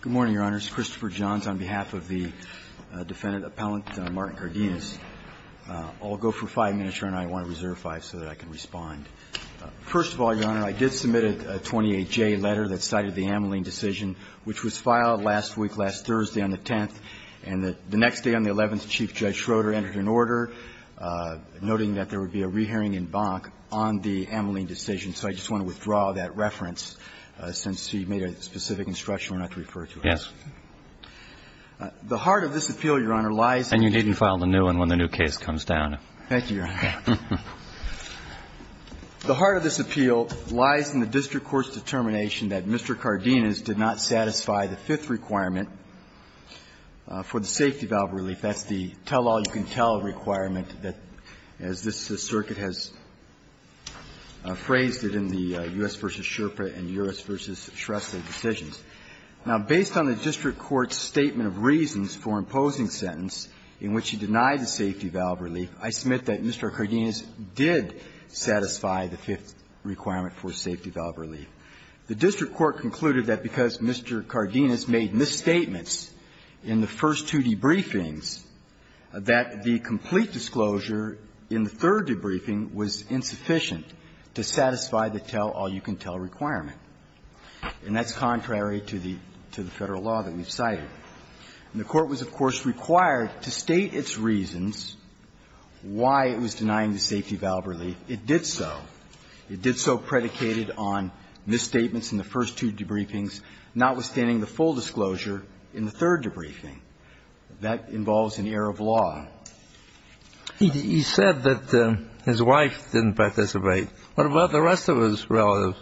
Good morning, Your Honors. Christopher Johns on behalf of the Defendant Appellant Martin Cardenas. I'll go for five minutes, Your Honor. I want to reserve five so that I can respond. First of all, Your Honor, I did submit a 28-J letter that cited the Ameline decision, which was filed last week, last Thursday on the 10th, and the next day on the 11th, Chief Judge Schroeder entered an order noting that there would be a case, and so you made a specific instruction we're not to refer to it. The heart of this appeal, Your Honor, lies in the district court's determination that Mr. Cardenas did not satisfy the fifth requirement for the safety valve relief. That's the tell-all-you-can-tell requirement that, as this circuit has phrased it in the U.S. v. Sherpa and U.S. v. Sherpa, the district court's determination Now, based on the district court's statement of reasons for imposing the sentence in which he denied the safety valve relief, I submit that Mr. Cardenas did satisfy the fifth requirement for safety valve relief. The district court concluded that because Mr. Cardenas made misstatements in the first two debriefings, that the complete disclosure in the third debriefing was insufficient to satisfy the tell-all-you-can-tell requirement, and that's contrary to the Federal law that we've cited. And the Court was, of course, required to state its reasons why it was denying the safety valve relief. It did so. It did so predicated on misstatements in the first two debriefings, notwithstanding the full disclosure in the third debriefing. That involves an error of law. He said that his wife didn't participate. What about the rest of his relatives?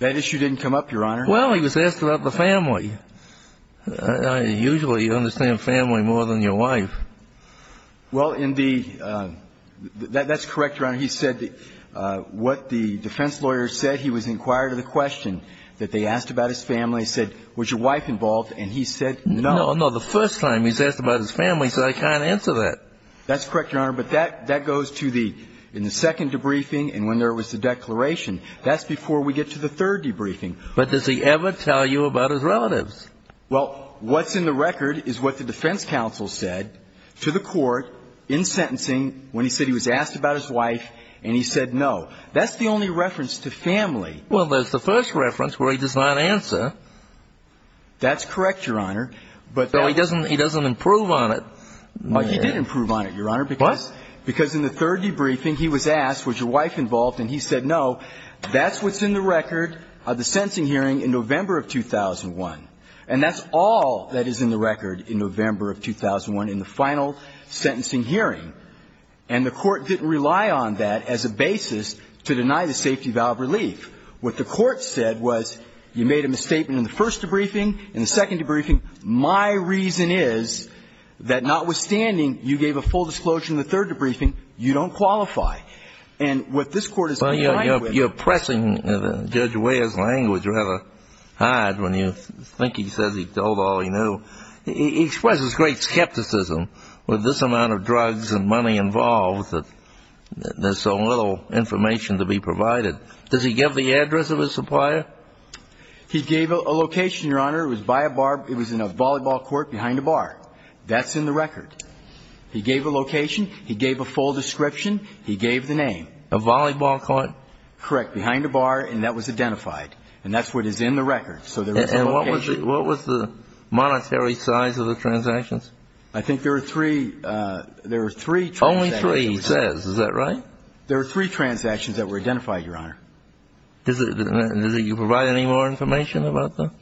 That issue didn't come up, Your Honor. Well, he was asked about the family. Usually you understand family more than your wife. Well, in the – that's correct, Your Honor. He said that what the defense lawyer said, he was inquired of the question that they asked about his family. He said, was your wife involved, and he said no. No, the first time he's asked about his family, he said I can't answer that. That's correct, Your Honor, but that goes to the – in the second debriefing and when there was the declaration. That's before we get to the third debriefing. But does he ever tell you about his relatives? Well, what's in the record is what the defense counsel said to the Court in sentencing when he said he was asked about his wife and he said no. That's the only reference to family. Well, that's the first reference where he does not answer. That's correct, Your Honor. Though he doesn't improve on it. Well, he did improve on it, Your Honor. What? Because in the third debriefing he was asked, was your wife involved, and he said no. That's what's in the record of the sentencing hearing in November of 2001. And that's all that is in the record in November of 2001 in the final sentencing hearing. And the Court didn't rely on that as a basis to deny the safety valve relief. What the Court said was you made a misstatement in the first debriefing, in the second debriefing. My reason is that notwithstanding you gave a full disclosure in the third debriefing, you don't qualify. And what this Court is complying with. Well, you're pressing Judge Ware's language rather hard when you think he says he told all he knew. He expresses great skepticism with this amount of drugs and money involved that there's so little information to be provided. Does he give the address of his supplier? He gave a location, Your Honor. It was by a bar. It was in a volleyball court behind a bar. That's in the record. He gave a location. He gave a full description. He gave the name. A volleyball court? Correct. Behind a bar. And that was identified. And that's what is in the record. So there was a location. And what was the monetary size of the transactions? I think there were three. There were three transactions. Only three, he says. Is that right? There were three transactions that were identified, Your Honor. Does he provide any more information about them?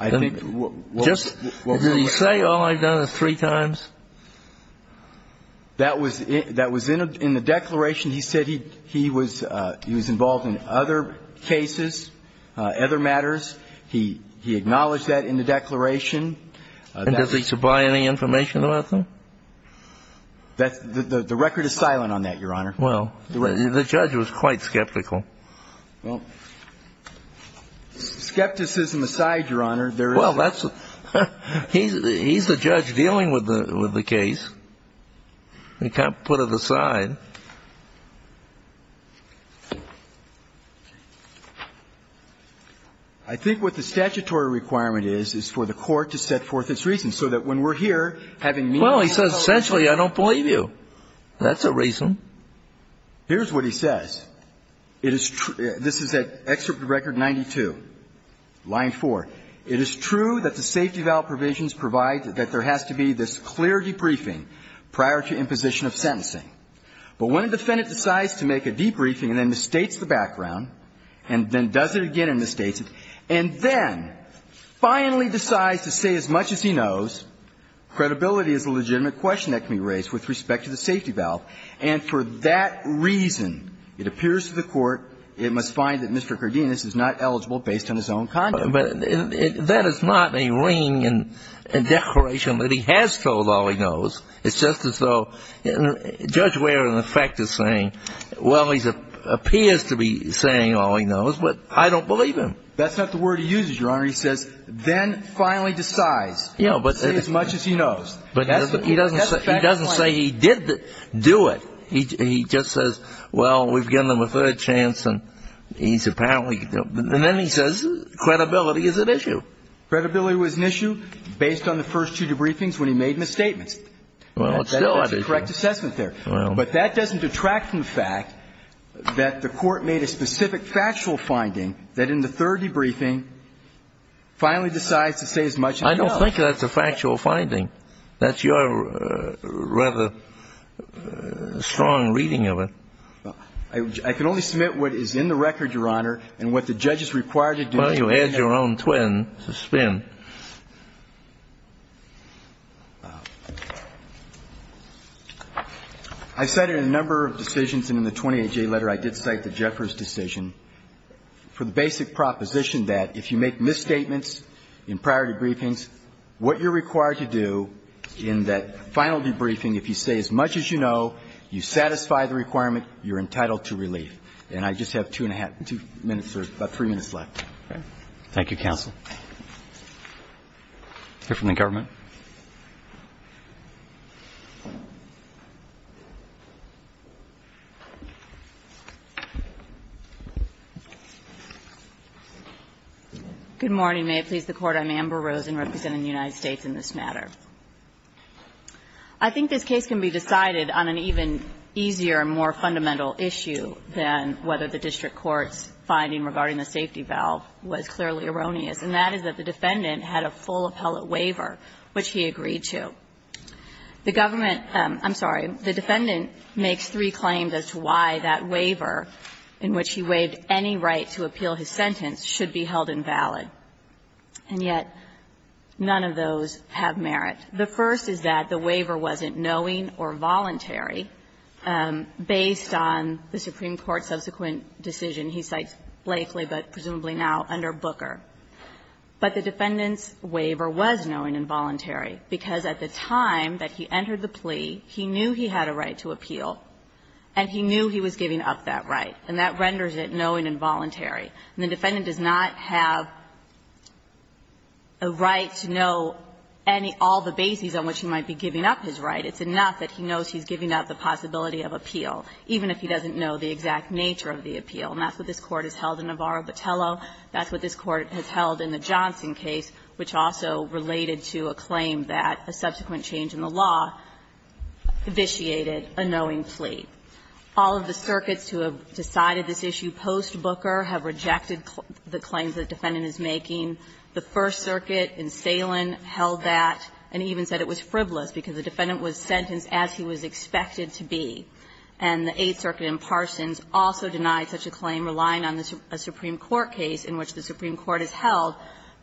I think we'll hear about that. Does he say all I've done is three times? That was in the declaration. He said he was involved in other cases, other matters. He acknowledged that in the declaration. And does he supply any information about them? The record is silent on that, Your Honor. Well, the judge was quite skeptical. Well, skepticism aside, Your Honor, there is. Well, he's the judge dealing with the case. You can't put it aside. I think what the statutory requirement is is for the court to set forth its reasons so that when we're here having meetings. Well, he says essentially I don't believe you. That's a reason. Here's what he says. It is true. This is at Excerpt to Record 92, line 4. It is true that the safety valve provisions provide that there has to be this clear debriefing prior to imposition of sentencing. But when a defendant decides to make a debriefing and then mistakes the background and then does it again and mistakes it, and then finally decides to say as much as he knows, credibility is a legitimate question that can be raised with respect to the safety valve. And for that reason, it appears to the court, it must find that Mr. Cardenas is not eligible based on his own conduct. But that is not a ring and declaration that he has told all he knows. It's just as though Judge Ware, in effect, is saying, well, he appears to be saying all he knows, but I don't believe him. That's not the word he uses, Your Honor. He says then finally decides to say as much as he knows. But he doesn't say he did do it. He just says, well, we've given him a third chance and he's apparently going to do it. And then he says credibility is an issue. Credibility was an issue based on the first two debriefings when he made misstatements. Well, it's still an issue. That's a correct assessment there. But that doesn't detract from the fact that the Court made a specific factual finding that in the third debriefing finally decides to say as much as he knows. I don't think that's a factual finding. That's your rather strong reading of it. I can only submit what is in the record, Your Honor, and what the judge is required to do. Well, you add your own twin to spin. I cited a number of decisions, and in the 28J letter I did cite the Jeffers decision for the basic proposition that if you make misstatements in priority briefings, what you're required to do in that final debriefing, if you say as much as you know, you satisfy the requirement, you're entitled to relief. And I just have two and a half, two minutes or about three minutes left. Thank you, counsel. Here from the government. Good morning. May it please the Court. I'm Amber Rosen representing the United States in this matter. I think this case can be decided on an even easier, more fundamental issue than whether the district court's finding regarding the safety valve was clearly erroneous. And that is that the defendant had a full appellate waiver, which he agreed to. The government — I'm sorry. The defendant makes three claims as to why that waiver in which he waived any right to appeal his sentence should be held invalid. And yet none of those have merit. The first is that the waiver wasn't knowing or voluntary based on the Supreme Court subsequent decision he cites blatantly but presumably now under Booker. But the defendant's waiver was knowing and voluntary because at the time that he entered the plea, he knew he had a right to appeal and he knew he was giving up that right. And that renders it knowing and voluntary. And the defendant does not have a right to know any — all the bases on which he might be giving up his right. It's enough that he knows he's giving up the possibility of appeal, even if he doesn't know the exact nature of the appeal. And that's what this Court has held in Navarro-Battello. That's what this Court has held in the Johnson case, which also related to a claim that a subsequent change in the law vitiated a knowing plea. All of the circuits who have decided this issue post-Booker have rejected the claims the defendant is making. The First Circuit in Salen held that and even said it was frivolous because the defendant was sentenced as he was expected to be. And the Eighth Circuit in Parsons also denied such a claim, relying on a Supreme Court case in which the Supreme Court has held.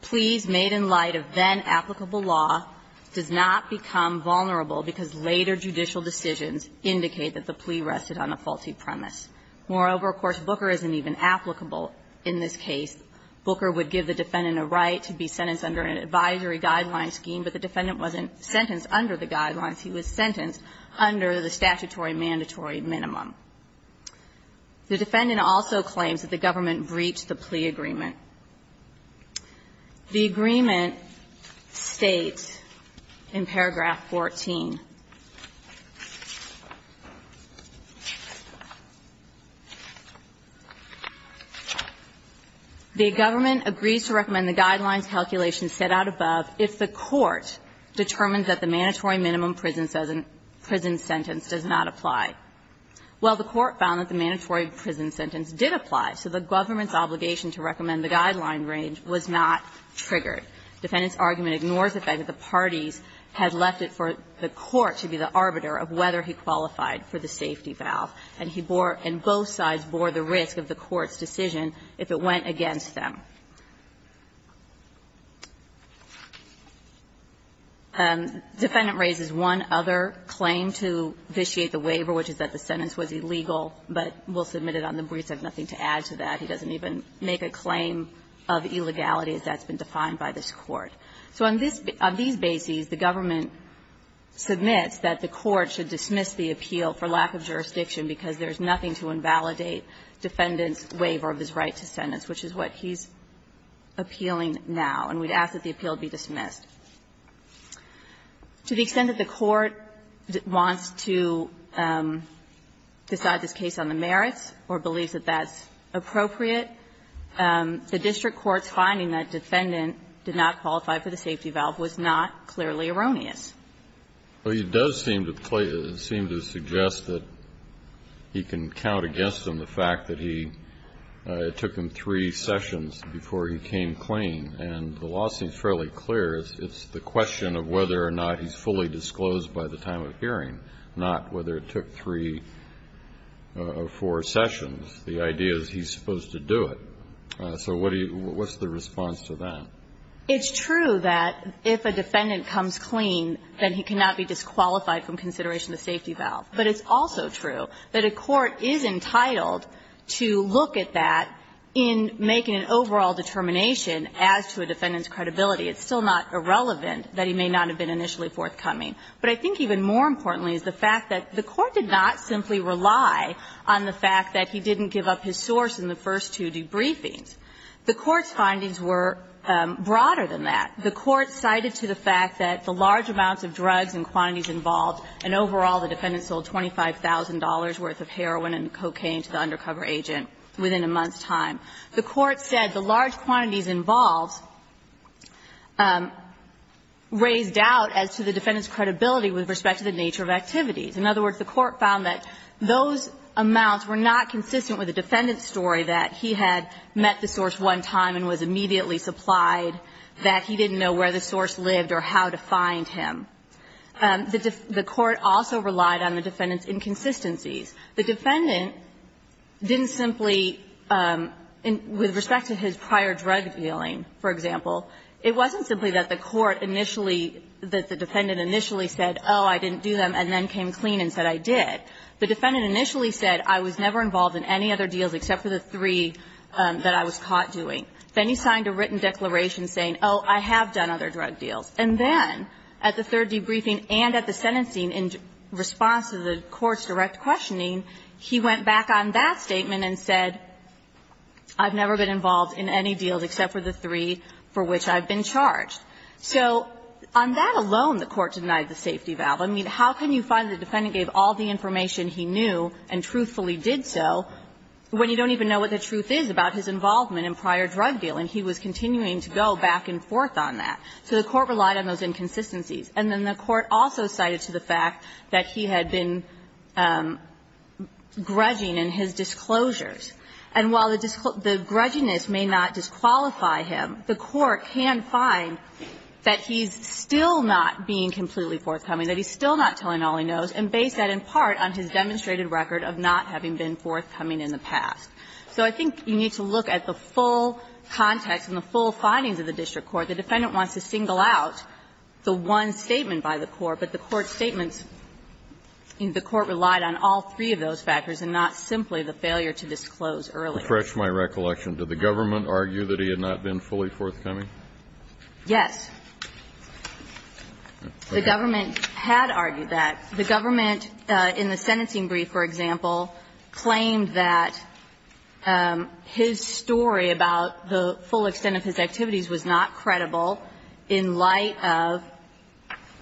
Pleas made in light of then-applicable law does not become vulnerable because later judicial decisions indicate that the plea rested on a faulty premise. Moreover, of course, Booker isn't even applicable in this case. Booker would give the defendant a right to be sentenced under an advisory guideline scheme, but the defendant wasn't sentenced under the guidelines. He was sentenced under the statutory mandatory minimum. The defendant also claims that the government breached the plea agreement. The agreement states in paragraph 14, the government agrees to recommend the guidelines calculation set out above if the court determined that the mandatory minimum prison sentence does not apply. Well, the court found that the mandatory prison sentence did apply, so the government's obligation to recommend the guideline range was not triggered. The defendant's argument ignores the fact that the parties had left it for the court to be the arbiter of whether he qualified for the safety valve, and he bore and both sides bore the risk of the court's decision if it went against them. The defendant raises one other claim to vitiate the waiver, which is that the sentence was illegal, but we'll submit it on the briefs. I have nothing to add to that. He doesn't even make a claim of illegality, as that's been defined by this Court. So on this basis, the government submits that the court should dismiss the appeal for lack of jurisdiction because there's nothing to invalidate defendant's right to sentence, which is what he's appealing now, and we'd ask that the appeal be dismissed. To the extent that the court wants to decide this case on the merits or believes that that's appropriate, the district court's finding that defendant did not qualify for the safety valve was not clearly erroneous. Well, it does seem to suggest that he can count against him the fact that he took him three sessions before he came clean, and the law seems fairly clear. It's the question of whether or not he's fully disclosed by the time of hearing, not whether it took three or four sessions. The idea is he's supposed to do it. So what's the response to that? It's true that if a defendant comes clean, then he cannot be disqualified from consideration of the safety valve. But it's also true that a court is entitled to look at that in making an overall determination as to a defendant's credibility. It's still not irrelevant that he may not have been initially forthcoming. But I think even more importantly is the fact that the court did not simply rely on the fact that he didn't give up his source in the first two debriefings. The Court's findings were broader than that. The Court cited to the fact that the large amounts of drugs and quantities involved, and overall the defendant sold $25,000 worth of heroin and cocaine to the undercover agent within a month's time. The Court said the large quantities involved raised doubt as to the defendant's credibility with respect to the nature of activities. In other words, the Court found that those amounts were not consistent with the defendant's story, that he had met the source one time and was immediately supplied, that he didn't know where the source lived or how to find him. The Court also relied on the defendant's inconsistencies. The defendant didn't simply, with respect to his prior drug dealing, for example, it wasn't simply that the court initially, that the defendant initially said, oh, I didn't do them and then came clean and said I did. The defendant initially said, I was never involved in any other deals except for the three that I was caught doing. Then he signed a written declaration saying, oh, I have done other drug deals. And then at the third debriefing and at the sentencing in response to the Court's direct questioning, he went back on that statement and said, I've never been involved in any deals except for the three for which I've been charged. So on that alone, the Court denied the safety valve. I mean, how can you find the defendant gave all the information he knew and truthfully did so when you don't even know what the truth is about his involvement in prior drug dealing? He was continuing to go back and forth on that. So the Court relied on those inconsistencies. And then the Court also cited to the fact that he had been grudging in his disclosures. And while the grudginess may not disqualify him, the Court can find that he's still not being completely forthcoming, that he's still not telling all he knows, and base that in part on his demonstrated record of not having been forthcoming in the past. So I think you need to look at the full context and the full findings of the district court. The defendant wants to single out the one statement by the court, but the Court's statements, the Court relied on all three of those factors and not simply the failure to disclose early. Kennedy, to refresh my recollection, did the government argue that he had not been fully forthcoming? Yes. The government had argued that. The government, in the sentencing brief, for example, claimed that his story about the full extent of his activities was not credible in light of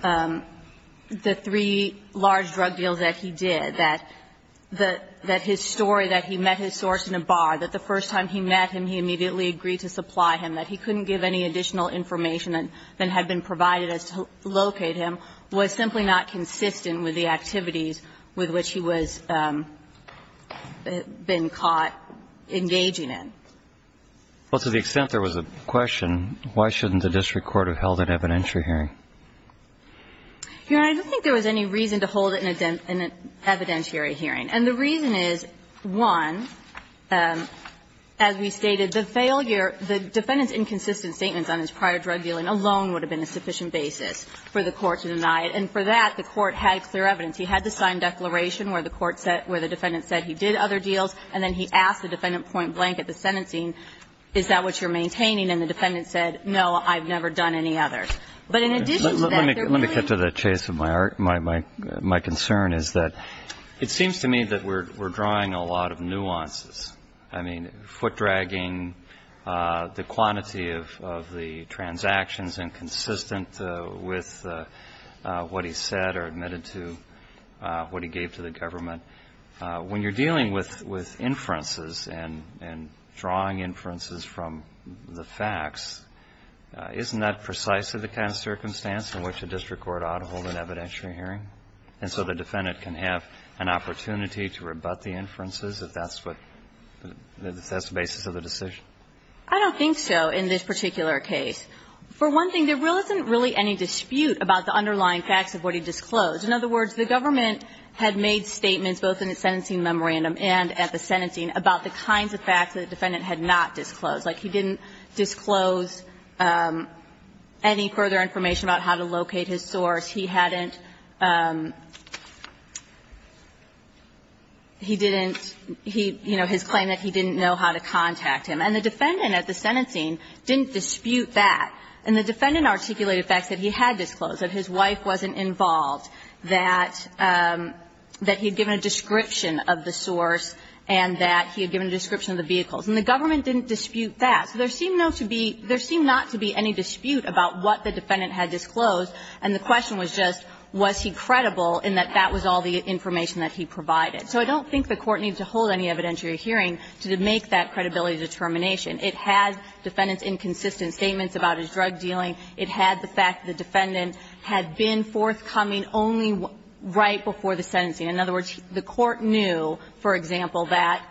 the three large drug deals that he did. And that his story, that he met his source in a bar, that the first time he met him, he immediately agreed to supply him, that he couldn't give any additional information that had been provided as to locate him, was simply not consistent with the activities with which he was been caught engaging in. Well, to the extent there was a question, why shouldn't the district court have held an evidentiary hearing? Herein, I don't think there was any reason to hold an evidentiary hearing. And the reason is, one, as we stated, the failure, the defendant's inconsistent statements on his prior drug dealing alone would have been a sufficient basis for the Court to deny it. And for that, the Court had clear evidence. He had the signed declaration where the Court said, where the defendant said he did other deals, and then he asked the defendant point blank at the sentencing, is that what you're maintaining? And the defendant said, no, I've never done any others. But in addition to that, there really is no evidence. Kennedy, let me get to the chase of my concern, is that it seems to me that we're drawing a lot of nuances, I mean, foot-dragging the quantity of the transactions inconsistent with what he said or admitted to, what he gave to the government. When you're dealing with inferences and drawing inferences from the facts, isn't that precisely the kind of circumstance in which a district court ought to hold an evidentiary hearing? And so the defendant can have an opportunity to rebut the inferences if that's what the basis of the decision? I don't think so in this particular case. For one thing, there really isn't any dispute about the underlying facts of what he disclosed. In other words, the government had made statements both in its sentencing memorandum and at the sentencing about the kinds of facts that the defendant had not disclosed. Like, he didn't disclose any further information about how to locate his source. He hadn't he didn't he, you know, his claim that he didn't know how to contact him. And the defendant at the sentencing didn't dispute that. And the defendant articulated facts that he had disclosed, that his wife wasn't involved, that he had given a description of the source and that he had given a description of the vehicles. And the government didn't dispute that. So there seemed no to be – there seemed not to be any dispute about what the defendant had disclosed, and the question was just was he credible in that that was all the information that he provided. So I don't think the Court needs to hold any evidentiary hearing to make that credibility determination. It had defendant's inconsistent statements about his drug dealing. It had the fact that the defendant had been forthcoming only right before the sentencing. In other words, the Court knew, for example, that,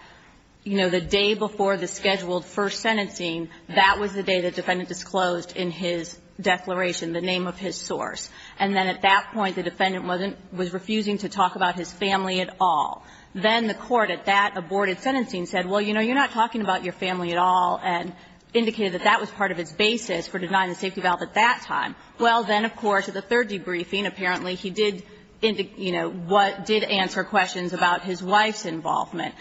you know, the day before the scheduled first sentencing, that was the day the defendant disclosed in his declaration the name of his source. And then at that point, the defendant wasn't – was refusing to talk about his family at all. Then the Court at that aborted sentencing said, well, you know, you're not talking about your family at all, and indicated that that was part of its basis for denying the safety valve at that time. Well, then, of course, at the third debriefing, apparently, he did, you know, what did answer questions about his wife's involvement.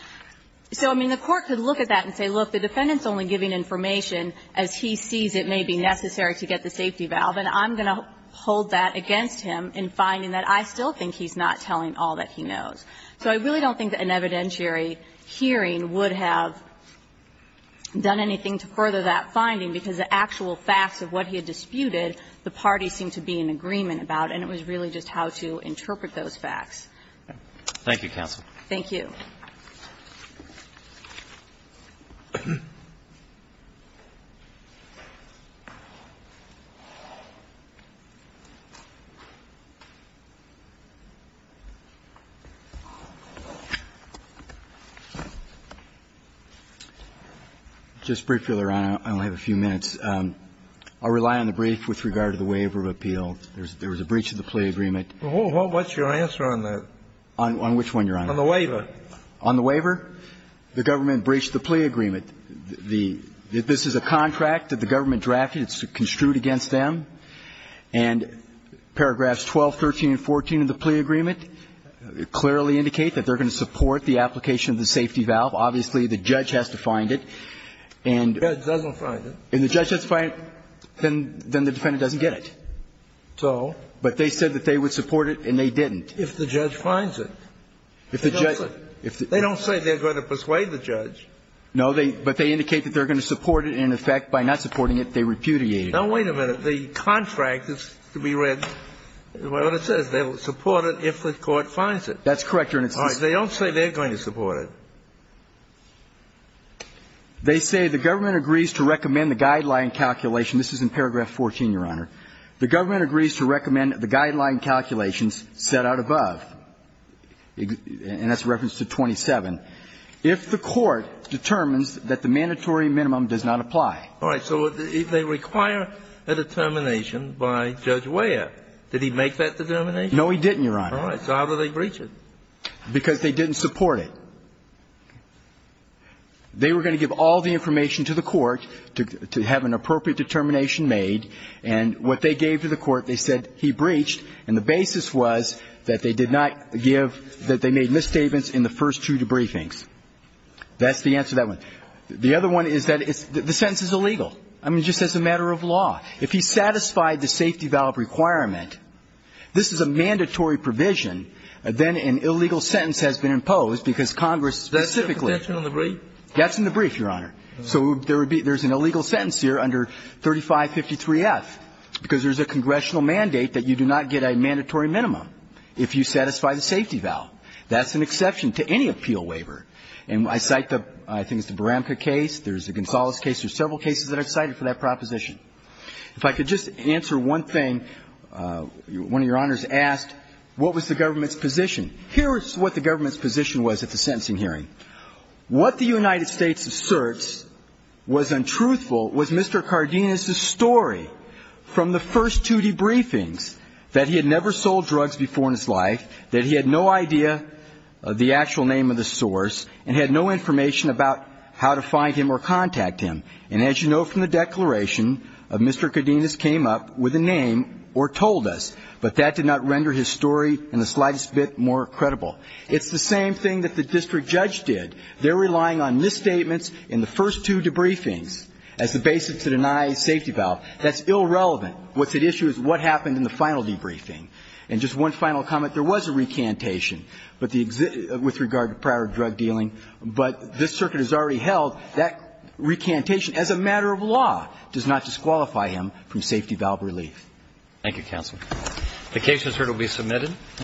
So, I mean, the Court could look at that and say, look, the defendant's only giving information as he sees it may be necessary to get the safety valve, and I'm going to hold that against him in finding that I still think he's not telling all that he knows. So I really don't think that an evidentiary hearing would have done anything to further that finding, because the actual facts of what he had disputed, the parties seemed to be in agreement about, and it was really just how to interpret those facts. Roberts. Thank you, counsel. Thank you. Just briefly, Your Honor, I only have a few minutes. I'll rely on the brief with regard to the waiver of appeal. There was a breach of the plea agreement. Well, what's your answer on that? On which one, Your Honor? On the waiver. On the waiver? The government breached the plea agreement. The – this is a contract that the government drafted. It's construed against them. And paragraphs 12, 13, and 14 of the plea agreement clearly indicate that they're going to support the application of the safety valve. Obviously, the judge has to find it. And the judge has to find it, then the defendant doesn't get it. So? But they said that they would support it, and they didn't. If the judge finds it. They don't say they're going to persuade the judge. No, but they indicate that they're going to support it, and, in effect, by not supporting it, they repudiate it. Now, wait a minute. The contract is to be read, what it says. They will support it if the court finds it. That's correct, Your Honor. All right. They don't say they're going to support it. They say the government agrees to recommend the guideline calculation. This is in paragraph 14, Your Honor. The government agrees to recommend the guideline calculations set out above. And that's reference to 27. If the court determines that the mandatory minimum does not apply. All right. So they require a determination by Judge Weyer. Did he make that determination? No, he didn't, Your Honor. All right. So how do they breach it? Because they didn't support it. They were going to give all the information to the court to have an appropriate determination made. And what they gave to the court, they said he breached, and the basis was that they did not give, that they made misstatements in the first two debriefings. That's the answer to that one. The other one is that the sentence is illegal. I mean, just as a matter of law. If he satisfied the safety valve requirement, this is a mandatory provision, then an illegal sentence has been imposed because Congress specifically. That's in the brief? That's in the brief, Your Honor. So there would be an illegal sentence here under 3553F, because there's a congressional mandate that you do not get a mandatory minimum. If you satisfy the safety valve. That's an exception to any appeal waiver. And I cite the, I think it's the Baramka case. There's the Gonzales case. There's several cases that I've cited for that proposition. If I could just answer one thing, one of your honors asked, what was the government's position? Here is what the government's position was at the sentencing hearing. What the United States asserts was untruthful was Mr. Cardenas' story from the first two debriefings, that he had never sold drugs before in his life, that he had no idea of the actual name of the source, and had no information about how to find him or contact him. And as you know from the declaration, Mr. Cardenas came up with a name or told us, but that did not render his story in the slightest bit more credible. It's the same thing that the district judge did. They're relying on misstatements in the first two debriefings as the basis to deny safety valve. That's irrelevant. What's at issue is what happened in the final debriefing. And just one final comment. There was a recantation with regard to prior drug dealing, but this circuit has already held that recantation, as a matter of law, does not disqualify him from safety valve relief. Thank you, Counsel. The case, as heard, will be submitted.